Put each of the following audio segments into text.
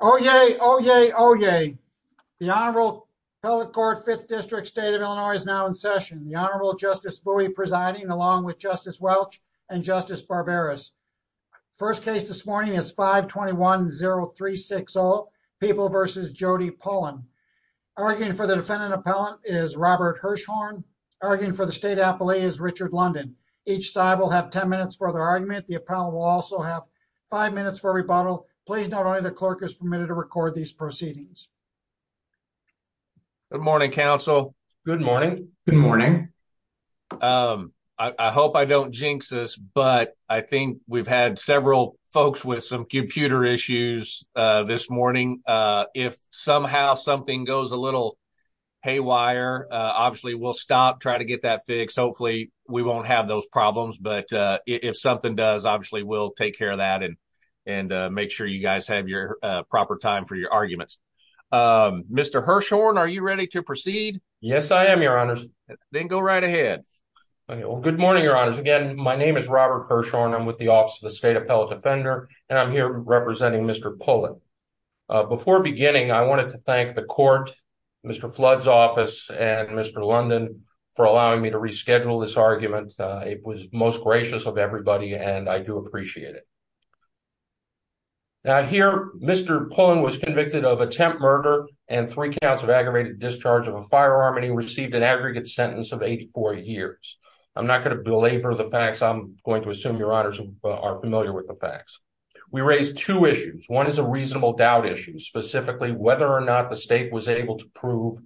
Oh, yay. Oh, yay. Oh, yay. The Honorable Appellate Court, 5th District State of Illinois is now in session. The Honorable Justice Bowie presiding along with Justice Welch and Justice Barberas. First case this morning is 521-0360, People v. Jody Pullen. Arguing for the defendant appellant is Robert Hirshhorn. Arguing for the state appellee is Richard London. Each side will have 10 minutes for their argument. The appellant will also have five minutes for rebuttal. Please note only the clerk is permitted to record these proceedings. Good morning, counsel. Good morning. Good morning. I hope I don't jinx this, but I think we've had several folks with some computer issues this morning. If somehow something goes a little haywire, obviously we'll stop, try to get that fixed. Hopefully we won't have those problems, but if something does, obviously we'll take care of that and make sure you guys have your proper time for your arguments. Mr. Hirshhorn, are you ready to proceed? Yes, I am, Your Honors. Then go right ahead. Good morning, Your Honors. Again, my name is Robert Hirshhorn. I'm with the Office of the State Appellate Defender, and I'm here representing Mr. Pullen. Before beginning, I wanted to thank the court, Mr. Flood's office, and Mr. London for allowing me to reschedule this argument. It was most gracious of everybody, and I do appreciate it. Now, here, Mr. Pullen was convicted of attempt murder and three counts of aggravated discharge of a firearm, and he received an aggregate sentence of 84 years. I'm not going to belabor the facts. I'm going to assume Your Honors are familiar with the facts. We raised two issues. One is a reasonable doubt issue, specifically whether or not the state was able to prove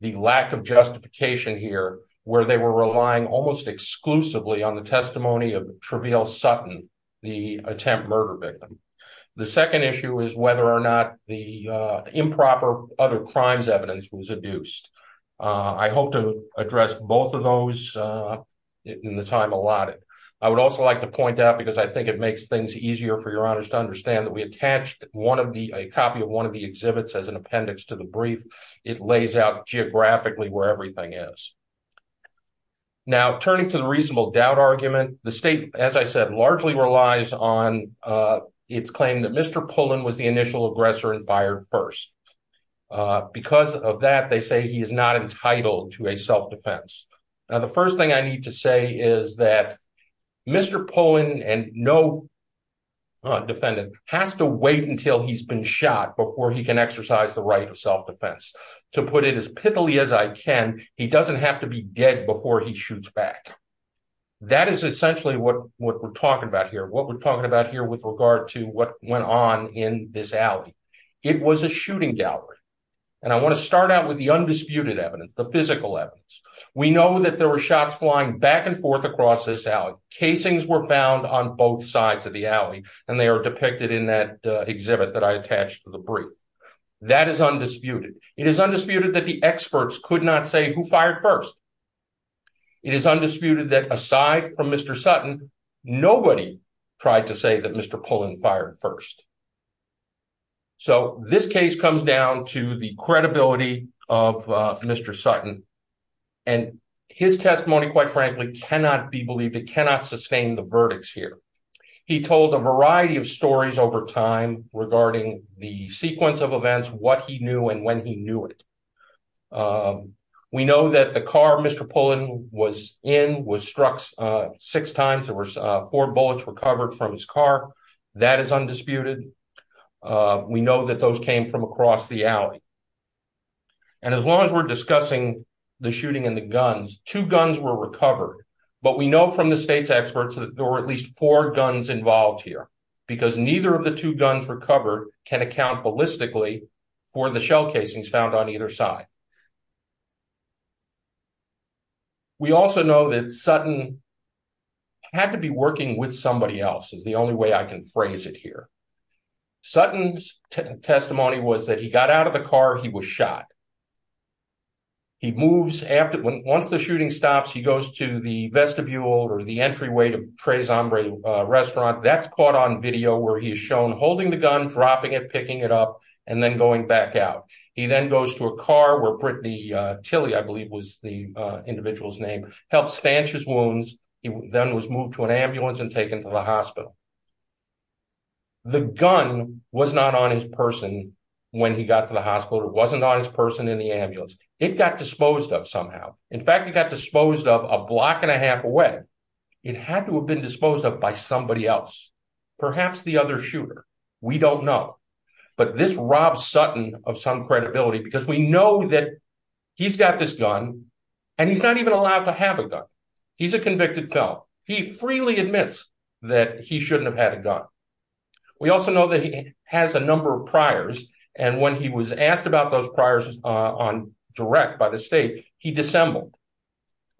the lack of justification here, where they were relying almost exclusively on the testimony of Treveal Sutton, the attempt murder victim. The second issue is whether or not the improper other crimes evidence was adduced. I hope to address both of those in the time allotted. I would also like to point out, because I think it makes things easier for Your Honors to understand, that we attached a copy of one of the exhibits as an appendix to the record, so that you can figure out geographically where everything is. Now, turning to the reasonable doubt argument, the state, as I said, largely relies on its claim that Mr. Pullen was the initial aggressor and fired first. Because of that, they say he is not entitled to a self-defense. Now, the first thing I need to say is that Mr. Pullen and no defendant has to wait until he's been shot before he can exercise the self-defense. To put it as pithily as I can, he doesn't have to be dead before he shoots back. That is essentially what we're talking about here, what we're talking about here with regard to what went on in this alley. It was a shooting gallery. And I want to start out with the undisputed evidence, the physical evidence. We know that there were shots flying back and forth across this alley. Casings were found on both sides of the alley, and that is undisputed. It is undisputed that the experts could not say who fired first. It is undisputed that aside from Mr. Sutton, nobody tried to say that Mr. Pullen fired first. So, this case comes down to the credibility of Mr. Sutton, and his testimony, quite frankly, cannot be believed. It cannot sustain the verdicts here. He told a variety of stories over time regarding the sequence of events, what he knew, and when he knew it. We know that the car Mr. Pullen was in was struck six times. There were four bullets recovered from his car. That is undisputed. We know that those came from across the alley. And as long as we're discussing the shooting and the guns, two guns were recovered. But we know from the state's experts that there were at least four guns involved here, because neither of the two guns recovered can account, ballistically, for the shell casings found on either side. We also know that Sutton had to be working with somebody else is the only way I can phrase it here. Sutton's testimony was that he got out of the car, he was shot. He moves after, once the shooting stops, he goes to the vestibule or the entryway to Tres shown holding the gun, dropping it, picking it up, and then going back out. He then goes to a car where Brittany Tilly, I believe was the individual's name, helped stanch his wounds. He then was moved to an ambulance and taken to the hospital. The gun was not on his person when he got to the hospital. It wasn't on his person in the ambulance. It got disposed of somehow. In fact, it got disposed of a block and a half away. It had to have been perhaps the other shooter. We don't know. But this robs Sutton of some credibility, because we know that he's got this gun, and he's not even allowed to have a gun. He's a convicted felon. He freely admits that he shouldn't have had a gun. We also know that he has a number of priors, and when he was asked about those priors direct by the state, he dissembled.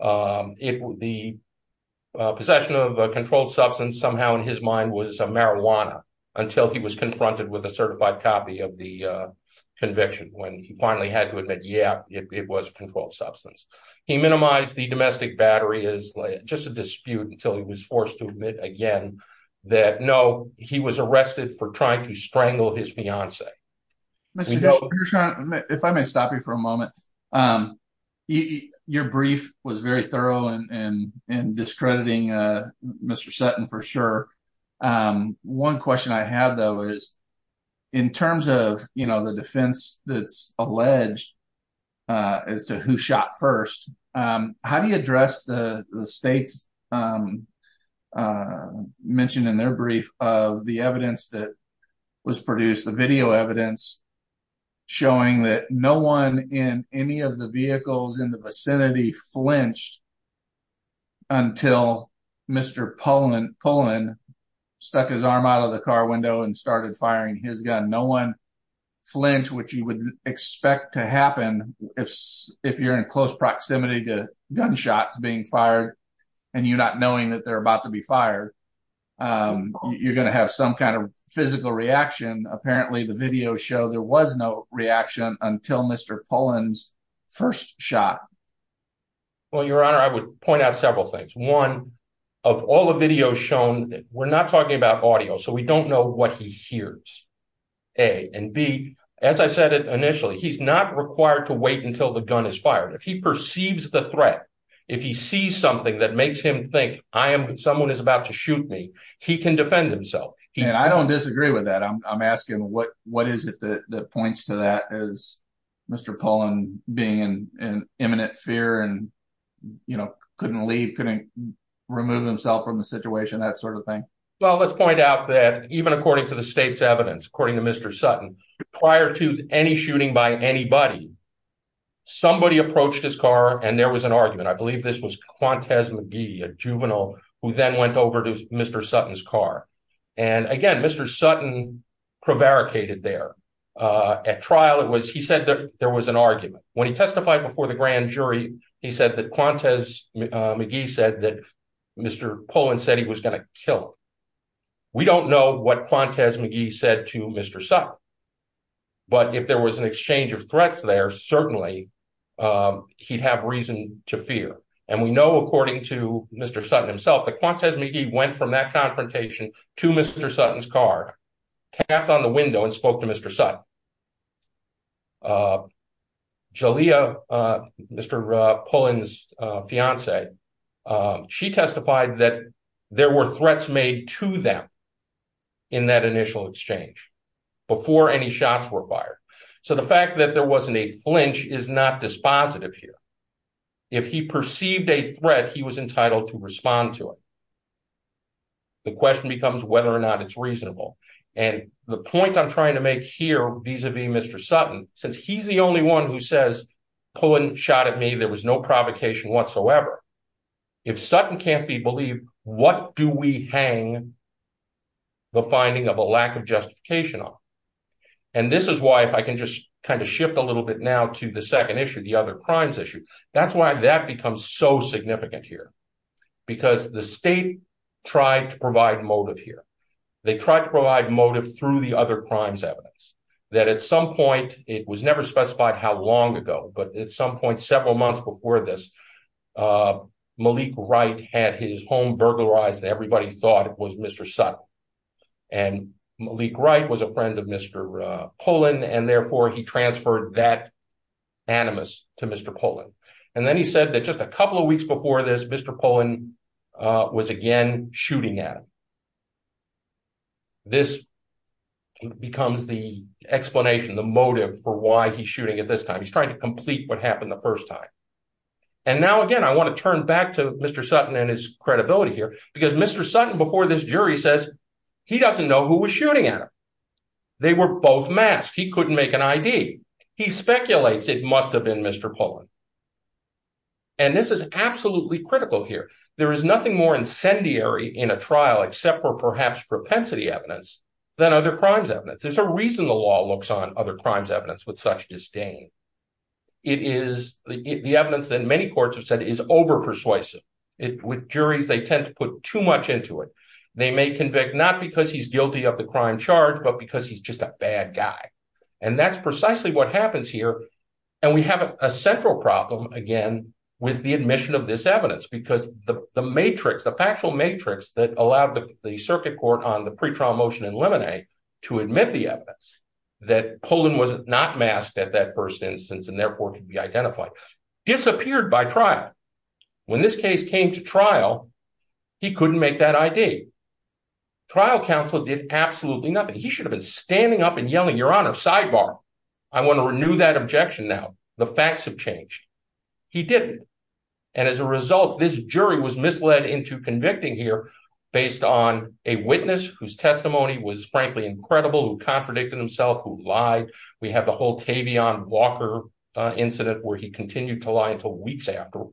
The possession of a controlled substance somehow in his mind was a marijuana until he was confronted with a certified copy of the conviction, when he finally had to admit, yeah, it was a controlled substance. He minimized the domestic battery as just a dispute until he was forced to admit again that, no, he was arrested for trying to strangle his fiance. Mr. Gilbert, if I may stop you for a moment, your brief was very thorough in discrediting Mr. Sutton for sure. One question I have, though, is in terms of the defense that's alleged as to who shot first, how do you address the state's mention in their brief of the evidence that was produced, the video evidence showing that no one in any of the vehicles in the vicinity flinched until Mr. Pullman stuck his arm out of the car window and started firing his gun? No one flinched, which you would expect to happen if you're in close proximity to gunshots being fired and you're not knowing that they're about to be fired. You're going to have some kind of physical reaction. Apparently, the video showed there was no reaction until Mr. Pullman's first shot. Well, Your Honor, I would point out several things. One, of all the videos shown, we're not talking about audio, so we don't know what he hears, A. And B, as I said initially, he's not required to wait until the gun is fired. If he perceives the threat, if he sees something that makes him think someone is about to shoot me, he can defend himself. I don't disagree with that. I'm asking what is it that points to that as Mr. Pullman being in imminent fear and couldn't leave, couldn't remove himself from the situation, that sort of thing? Well, let's point out that even according to the state's evidence, according to Mr. Sutton, prior to any shooting by anybody, somebody approached his car and there was an argument. I believe this was Qantas McGee, a juvenile who then went over to Mr. Sutton's car. And again, Mr. Sutton prevaricated there. At trial, he said that there was an argument. When he testified before the grand jury, he said that Qantas McGee said that Mr. Pullman said he was going to kill him. We don't know what Qantas McGee said to Mr. Sutton, but if there was an exchange of threats there, certainly he'd have reason to fear. And we know according to Mr. Sutton himself, that Qantas McGee went from that confrontation to Mr. Sutton's car, tapped on the window and to them in that initial exchange, before any shots were fired. So the fact that there wasn't a flinch is not dispositive here. If he perceived a threat, he was entitled to respond to it. The question becomes whether or not it's reasonable. And the point I'm trying to make here vis-a-vis Mr. Sutton, since he's the only one who says, Pullman shot at me, there was no provocation whatsoever. If Sutton can't be believed, what do we hang the finding of a lack of justification on? And this is why if I can just kind of shift a little bit now to the second issue, the other crimes issue, that's why that becomes so significant here. Because the state tried to provide motive here. They tried to provide motive through the other crimes evidence. That at some point, it was never specified how long ago, but at some point, several months before this, Malik Wright had his home burglarized, and everybody thought it was Mr. Sutton. And Malik Wright was a friend of Mr. Pullman, and therefore he transferred that animus to Mr. Pullman. And then he said that just a couple of weeks before this, Mr. Pullman was again shooting at him. This becomes the explanation, the motive for why he's shooting at this time. He's trying to complete what happened the first time. And now again, I want to turn back to Mr. Sutton and his credibility here, because Mr. Sutton before this jury says he doesn't know who was shooting at him. They were both masked. He couldn't make an ID. He speculates it must have been Mr. Pullman. And this is absolutely critical here. There is nothing more incendiary in a trial except for perhaps propensity evidence than other crimes with such disdain. The evidence that many courts have said is over persuasive. With juries, they tend to put too much into it. They may convict not because he's guilty of the crime charge, but because he's just a bad guy. And that's precisely what happens here. And we have a central problem again with the admission of this evidence, because the matrix, the factual matrix that allowed the circuit court on the pre-trial motion in Lemonade to admit the evidence that Pullman was not masked at that first instance, and therefore could be identified, disappeared by trial. When this case came to trial, he couldn't make that ID. Trial counsel did absolutely nothing. He should have been standing up and yelling, Your Honor, sidebar. I want to renew that objection now. The facts have changed. He didn't. And as a result, this jury was misled into convicting here based on a witness whose incredible, who contradicted himself, who lied. We have the whole Tavion Walker incident where he continued to lie until weeks after.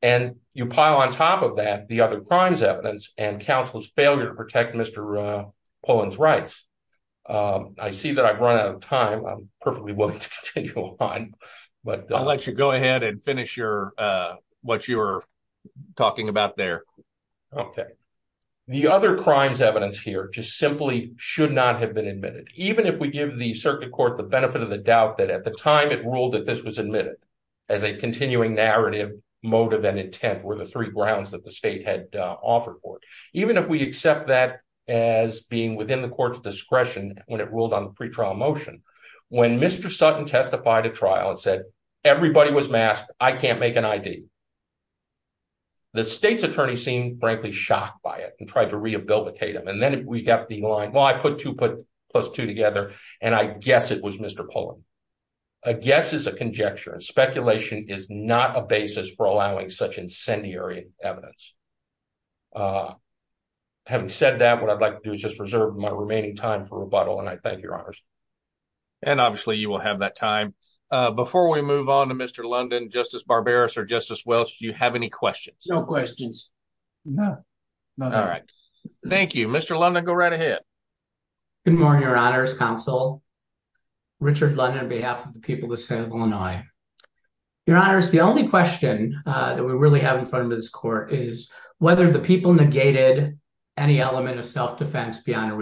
And you pile on top of that, the other crimes evidence and counsel's failure to protect Mr. Pullman's rights. I see that I've run out of time. I'm perfectly willing to continue on. I'll let you go ahead and finish what you were talking about there. Okay. The other crimes evidence here just simply should not have been admitted. Even if we give the circuit court the benefit of the doubt that at the time it ruled that this was admitted as a continuing narrative motive and intent were the three grounds that the state had offered for it. Even if we accept that as being within the court's discretion when it ruled on the pre-trial motion, when Mr. Sutton testified at trial and said, Everybody was masked. I can't make an ID. The state's attorney seemed frankly shocked by it and tried to rehabilitate him. And then we got the line. Well, I put two plus two together and I guess it was Mr. Pullman. A guess is a conjecture and speculation is not a basis for allowing such incendiary evidence. Having said that, what I'd like to do is just reserve my remaining time for rebuttal and I thank your honors. And obviously you will have that time. Before we move on to Mr. London, Justice Barbaros or Justice Welch, do you have any questions? No questions. No. All right. Thank you. Mr. London, go right ahead. Good morning, your honors, counsel. Richard London on behalf of the people of the state of Illinois. Your honors, the only question that we really have in front of this court is whether the people negated any element of self-defense beyond a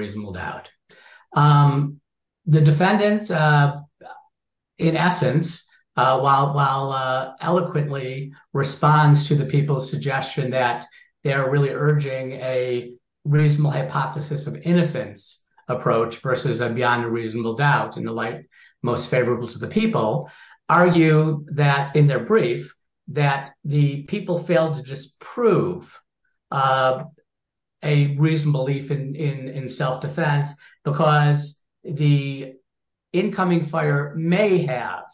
eloquently responds to the people's suggestion that they are really urging a reasonable hypothesis of innocence approach versus a beyond a reasonable doubt in the light most favorable to the people, argue that in their brief that the people failed to just prove a reasonable belief in self-defense because the incoming fire may have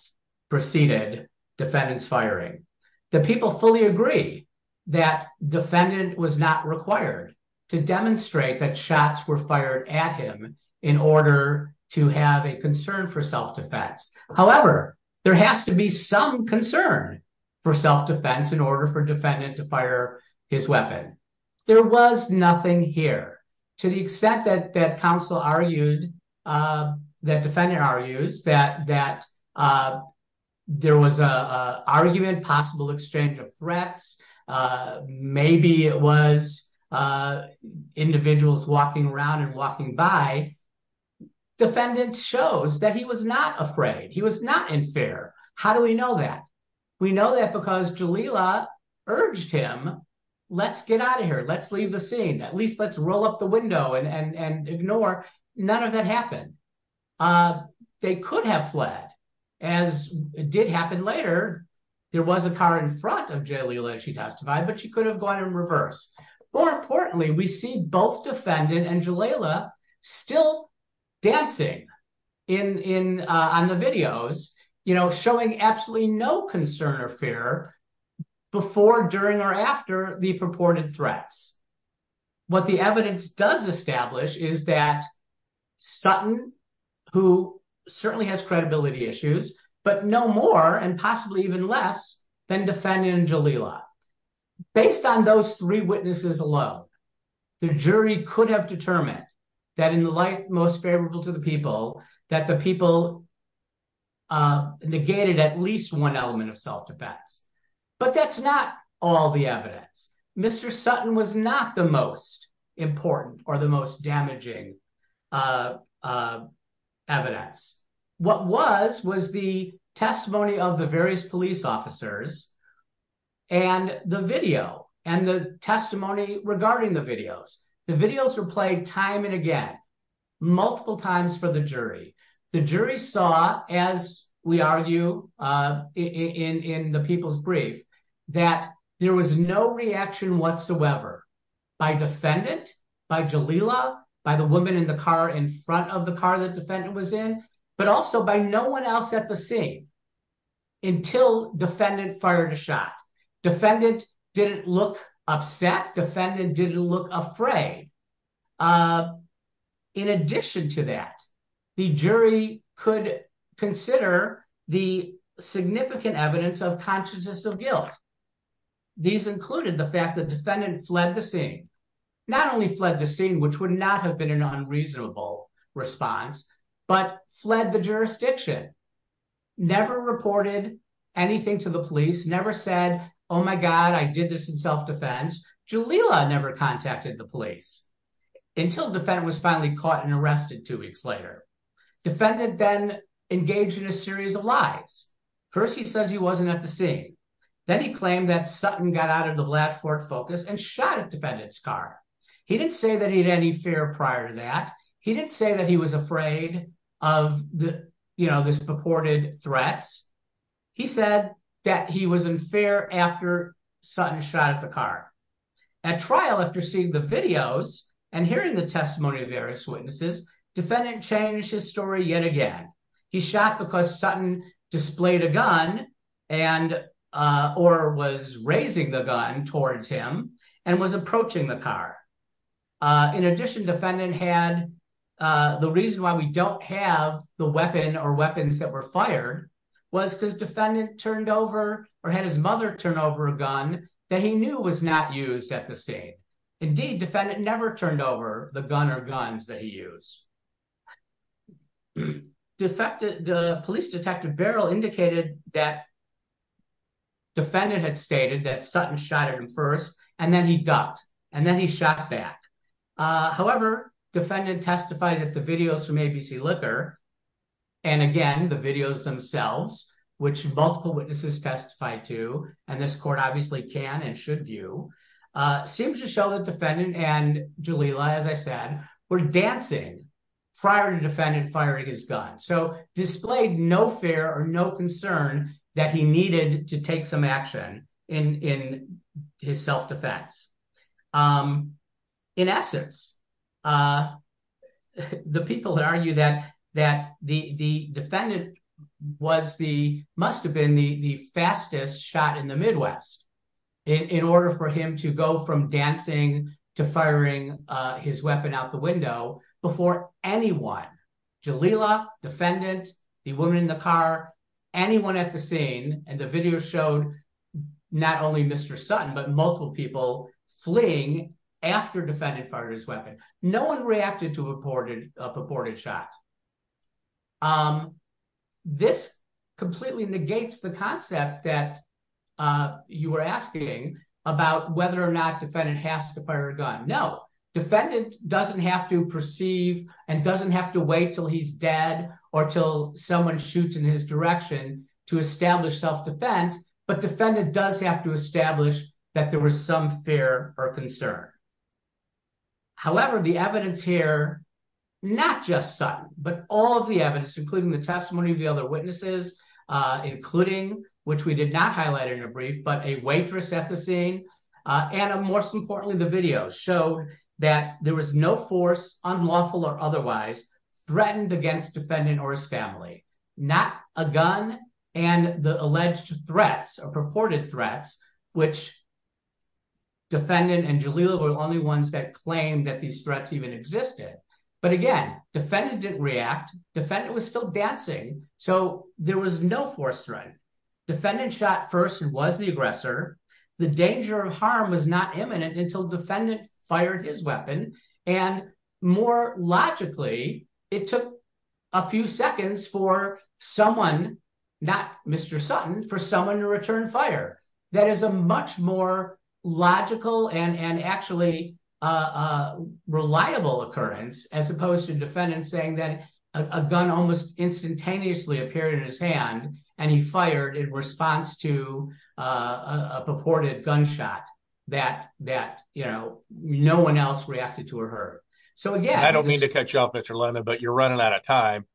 preceded defendant's firing. The people fully agree that defendant was not required to demonstrate that shots were fired at him in order to have a concern for self-defense. However, there has to be some concern for self-defense in order for the people to be able to prove that the people failed to prove a reasonable belief in self-defense. The people also argued that defendant argues that there was an argument, possible exchange of threats. Maybe it was individuals walking around and walking by. Defendant shows that he was not afraid. He was not in fear. How do we know that? We know that because Jalila urged him, let's get out of here. Let's leave the scene. At least let's roll up the window and ignore. None of that happened. They could have fled as did happen later. There was a car in front of Jalila, she testified, but she could have gone in reverse. More importantly, we see both defendant and Jalila still dancing on the videos, showing absolutely no concern or fear before, during, or after the purported threats. What the evidence does establish is that Sutton, who certainly has credibility issues, but no more and possibly even less than defendant and Jalila. Based on those three witnesses alone, the jury could have determined that in the life most favorable to the people, that the people negated at least one element of self-defense, but that's not all the evidence. Mr. Sutton was not the most important or the most damaging evidence. What was, was the testimony of the various police officers and the video and the testimony regarding the videos. The videos were played time and again, multiple times for the jury. The jury saw, as we argue in the people's brief, that there was no reaction whatsoever by defendant, by Jalila, by the woman in the car in front of the car that fled the scene until defendant fired a shot. Defendant didn't look upset. Defendant didn't look afraid. In addition to that, the jury could consider the significant evidence of consciousness of guilt. These included the fact that defendant fled the scene, not only fled the scene, which would not have been an unreasonable response, but fled the jurisdiction. Never reported anything to the police, never said, oh my God, I did this in self-defense. Jalila never contacted the police until defendant was finally caught and arrested two weeks later. Defendant then engaged in a series of lies. First, he says he wasn't at the scene. Then he claimed that Sutton got out of the prior to that. He didn't say that he was afraid of the, you know, this purported threats. He said that he was in fear after Sutton shot at the car. At trial, after seeing the videos and hearing the testimony of various witnesses, defendant changed his story yet again. He shot because Sutton displayed a gun and or was raising the gun towards him and was approaching the car. In addition, defendant had the reason why we don't have the weapon or weapons that were fired was because defendant turned over or had his mother turn over a gun that he knew was not used at the scene. Indeed, defendant never turned over the gun or guns that he used. Defected police detective Barrell indicated that defendant had stated that Sutton shot at him first and then he ducked and then he shot back. However, defendant testified that the videos from ABC Liquor and again, the videos themselves, which multiple witnesses testified to, and this court obviously can and should view, seems to show that defendant and Jalila, as I said, were dancing prior to defendant firing his gun. So displayed no fear or no concern that he needed to take some defense. In essence, the people that argue that the defendant was the, must have been the fastest shot in the Midwest in order for him to go from dancing to firing his weapon out the window before anyone, Jalila, defendant, the woman in the car, anyone at the scene, and the video showed not only Mr. Sutton, but multiple people fleeing after defendant fired his weapon. No one reacted to a purported shot. This completely negates the concept that you were asking about whether or not defendant has to fire a gun. No, defendant doesn't have to perceive and doesn't have to wait till he's dead or till someone shoots in his direction to establish self-defense, but defendant does have to establish that there was some fear or concern. However, the evidence here, not just Sutton, but all of the evidence, including the testimony of the other witnesses, including, which we did not highlight in a brief, but a waitress at the scene, and most importantly, the video showed that there was no force, unlawful or otherwise, threatened against defendant or his family. Not a gun and the alleged threats or purported threats, which defendant and Jalila were the only ones that claimed that these threats even existed. But again, defendant didn't react. Defendant was still dancing, so there was no force threat. Defendant shot first and was the aggressor. The danger of harm was not imminent until defendant fired his weapon, and more logically, it took a few seconds for someone, not Mr. Sutton, for someone to return fire. That is a much more logical and actually reliable occurrence, as opposed to defendant saying that a gun almost purported gunshot that no one else reacted to or heard. So again- I don't mean to cut you off, Mr. London, but you're running out of time.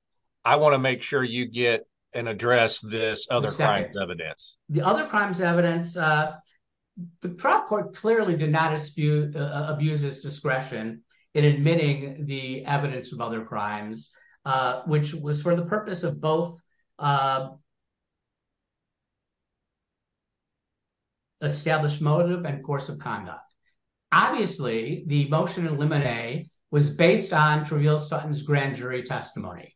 I want to make sure you get and address this other crimes evidence. The other crimes evidence, the trial court clearly did not abuse its discretion in admitting the evidence of other crimes, which was for the purpose of both established motive and course of conduct. Obviously, the motion in Limine was based on Truvial Sutton's grand jury testimony.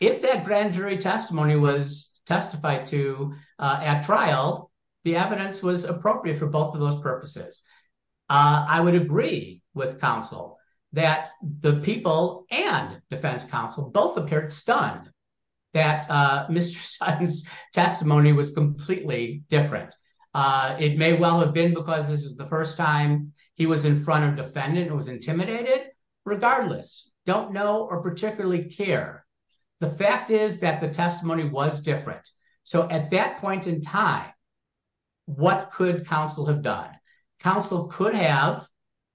If that grand jury testimony was testified to at trial, the evidence was appropriate for both of those purposes. I would agree with counsel that the people and defense counsel both appeared stunned that Mr. Sutton's testimony was completely different. It may well have been because this is the first time he was in front of defendant and was intimidated. Regardless, don't know or particularly care. The fact is that the testimony was different. So at that point in time, what could counsel have done? Counsel could have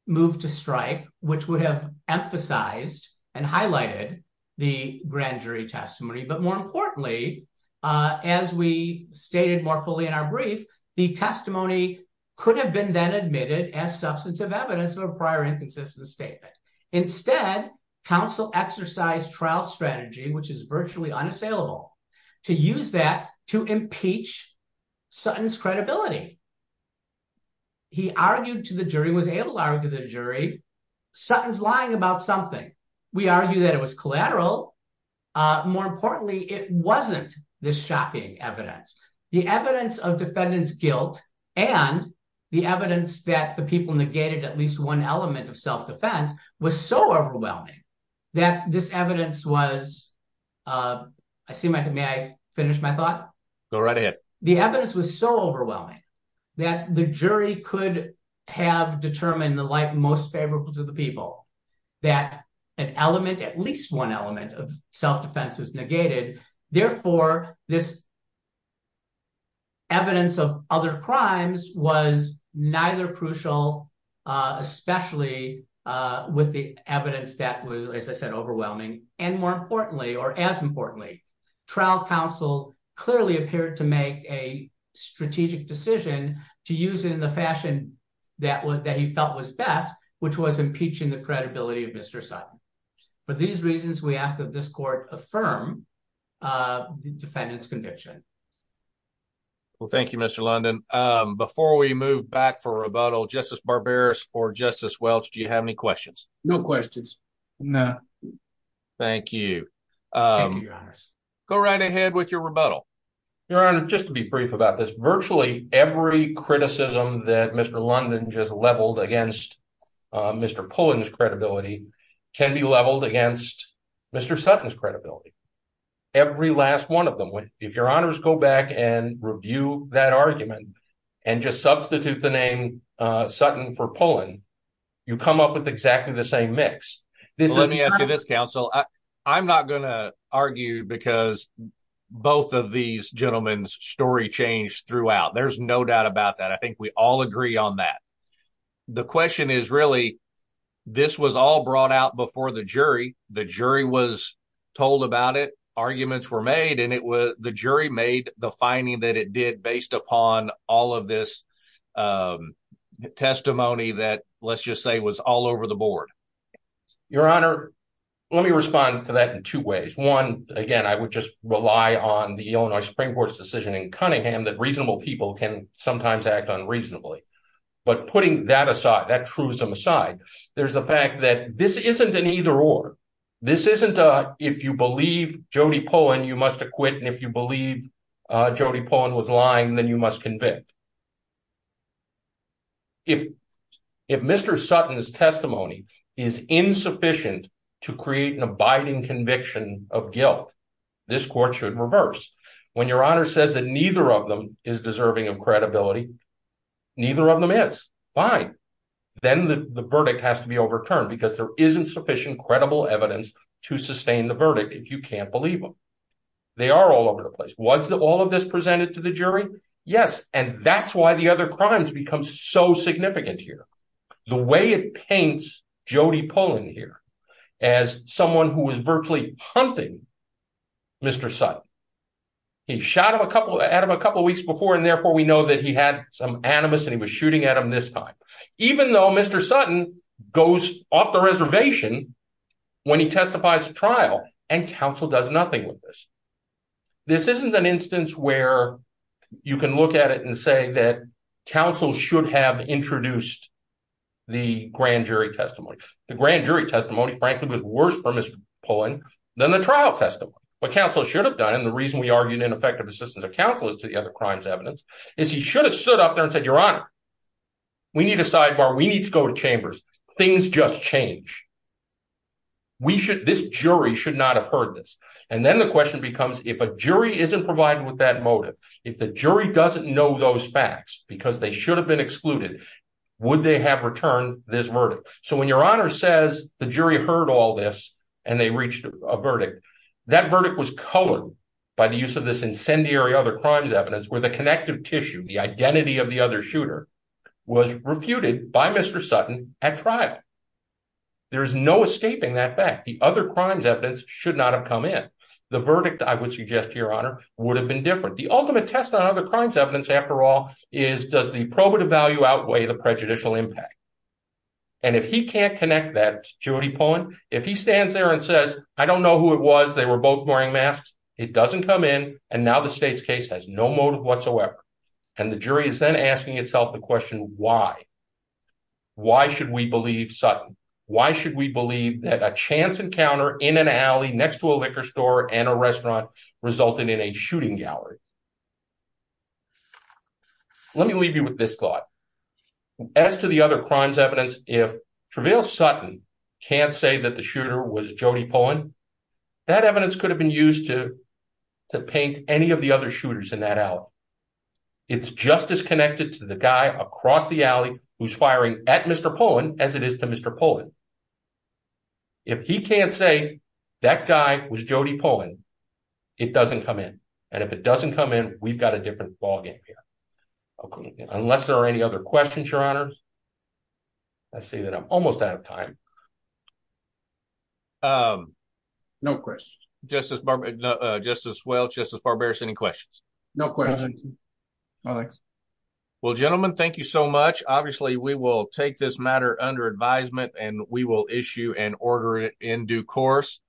moved to strike, which would have emphasized and highlighted the grand jury testimony. But more importantly, as we stated more fully in our brief, the testimony could have been then admitted as substantive evidence of a prior inconsistency statement. Instead, counsel exercised trial strategy, which is virtually unassailable, to use that to impeach Sutton's credibility. He argued to the jury, was able to argue to the jury, Sutton's lying about something. We argue that it was collateral. More importantly, it wasn't this shocking evidence. The evidence of defendant's guilt and the evidence that the people negated at least one element of self-defense was so overwhelming that this evidence was, I seem like, may I finish my thought? Go right ahead. The evidence was so overwhelming that the jury could have determined the light most favorable to the people that an element, at least one element of self-defense is negated. Therefore, this evidence of other crimes was neither crucial, especially with the evidence that was, as I said, overwhelming. And more importantly, or as importantly, trial counsel clearly appeared to a strategic decision to use it in the fashion that he felt was best, which was impeaching the credibility of Mr. Sutton. For these reasons, we ask that this court affirm defendant's conviction. Well, thank you, Mr. London. Before we move back for rebuttal, Justice Barberis or Justice Welch, do you have any questions? No questions. No. Thank you. Thank you, your honors. Go right ahead with your rebuttal. Your honor, just to be brief about this, virtually every criticism that Mr. London just leveled against Mr. Pullen's credibility can be leveled against Mr. Sutton's credibility. Every last one of them. If your honors go back and review that argument and just substitute the name Sutton for Pullen, you come up with exactly the same mix. Let me ask you this, counsel. I'm not going to argue because both of these gentlemen's story changed throughout. There's no doubt about that. I think we all agree on that. The question is really, this was all brought out before the jury. The jury was told about it, arguments were made, and the jury made the finding that it did based upon all of this testimony that, let's just say, was all over the board. Your honor, let me respond to that in two ways. One, again, I would just rely on the Illinois Supreme Court's decision in Cunningham that reasonable people can sometimes act unreasonably. But putting that aside, that truism aside, there's the fact that this isn't an either-or. This isn't a, if you believe Jody Pullen, you must acquit, and if you believe Jody Pullen was lying, then you must convict. If Mr. Sutton's testimony is insufficient to create an abiding conviction of guilt, this court should reverse. When your honor says that neither of them is deserving of credibility, neither of them is. Fine. Then the verdict has to be overturned because there isn't sufficient credible evidence to sustain the verdict if you can't believe them. They are all over the place. Was all of this presented to the jury? Yes, and that's why the other crimes become so significant here. The way it paints Jody Pullen here as someone who was virtually hunting Mr. Sutton. He shot at him a couple of weeks before, and therefore we know that he had some animus and he was shooting at him this time, even though Mr. Sutton goes off the reservation when he is. This is an instance where you can look at it and say that counsel should have introduced the grand jury testimony. The grand jury testimony, frankly, was worse for Mr. Pullen than the trial testimony. What counsel should have done, and the reason we argued ineffective assistance of counsel is to the other crimes evidence, is he should have stood up there and said, your honor, we need a sidebar. We need to go to chambers. Things just change. We should, this jury should not have heard this, and then the question becomes if a jury isn't provided with that motive, if the jury doesn't know those facts because they should have been excluded, would they have returned this verdict? So when your honor says the jury heard all this and they reached a verdict, that verdict was colored by the use of this incendiary other crimes evidence where the connective tissue, the identity of the other shooter, was refuted by Mr. Sutton at trial. There is no escaping that fact. The other crimes evidence should not have come in. The verdict, I would suggest, your honor, would have been different. The ultimate test on other crimes evidence, after all, is does the probative value outweigh the prejudicial impact? And if he can't connect that to Judy Pullen, if he stands there and says, I don't know who it was, they were both wearing masks, it doesn't come in, and now the state's case has no motive whatsoever, and the jury is then asking itself the question, why? Why should we believe Sutton? Why should we believe that a chance encounter in an alley next to a liquor store and a restaurant resulted in a shooting gallery? Let me leave you with this thought. As to the other crimes evidence, if Travail Sutton can't say that the shooter was Jody Pullen, that evidence could have been used to paint any of the other shooters in that alley. It's just as connected to the guy across the alley who's firing at Mr. Pullen as it is to Mr. Pullen. If he can't say that guy was Jody Pullen, it doesn't come in, and if it doesn't come in, we've got a different ball game here. Unless there are any other questions, your honor, I say that I'm almost out of time. No questions. Justice Welch, Justice Barberis, any questions? No questions. Well, gentlemen, thank you so much. Obviously, we will take this matter under advisement, and we will issue and order it in due course.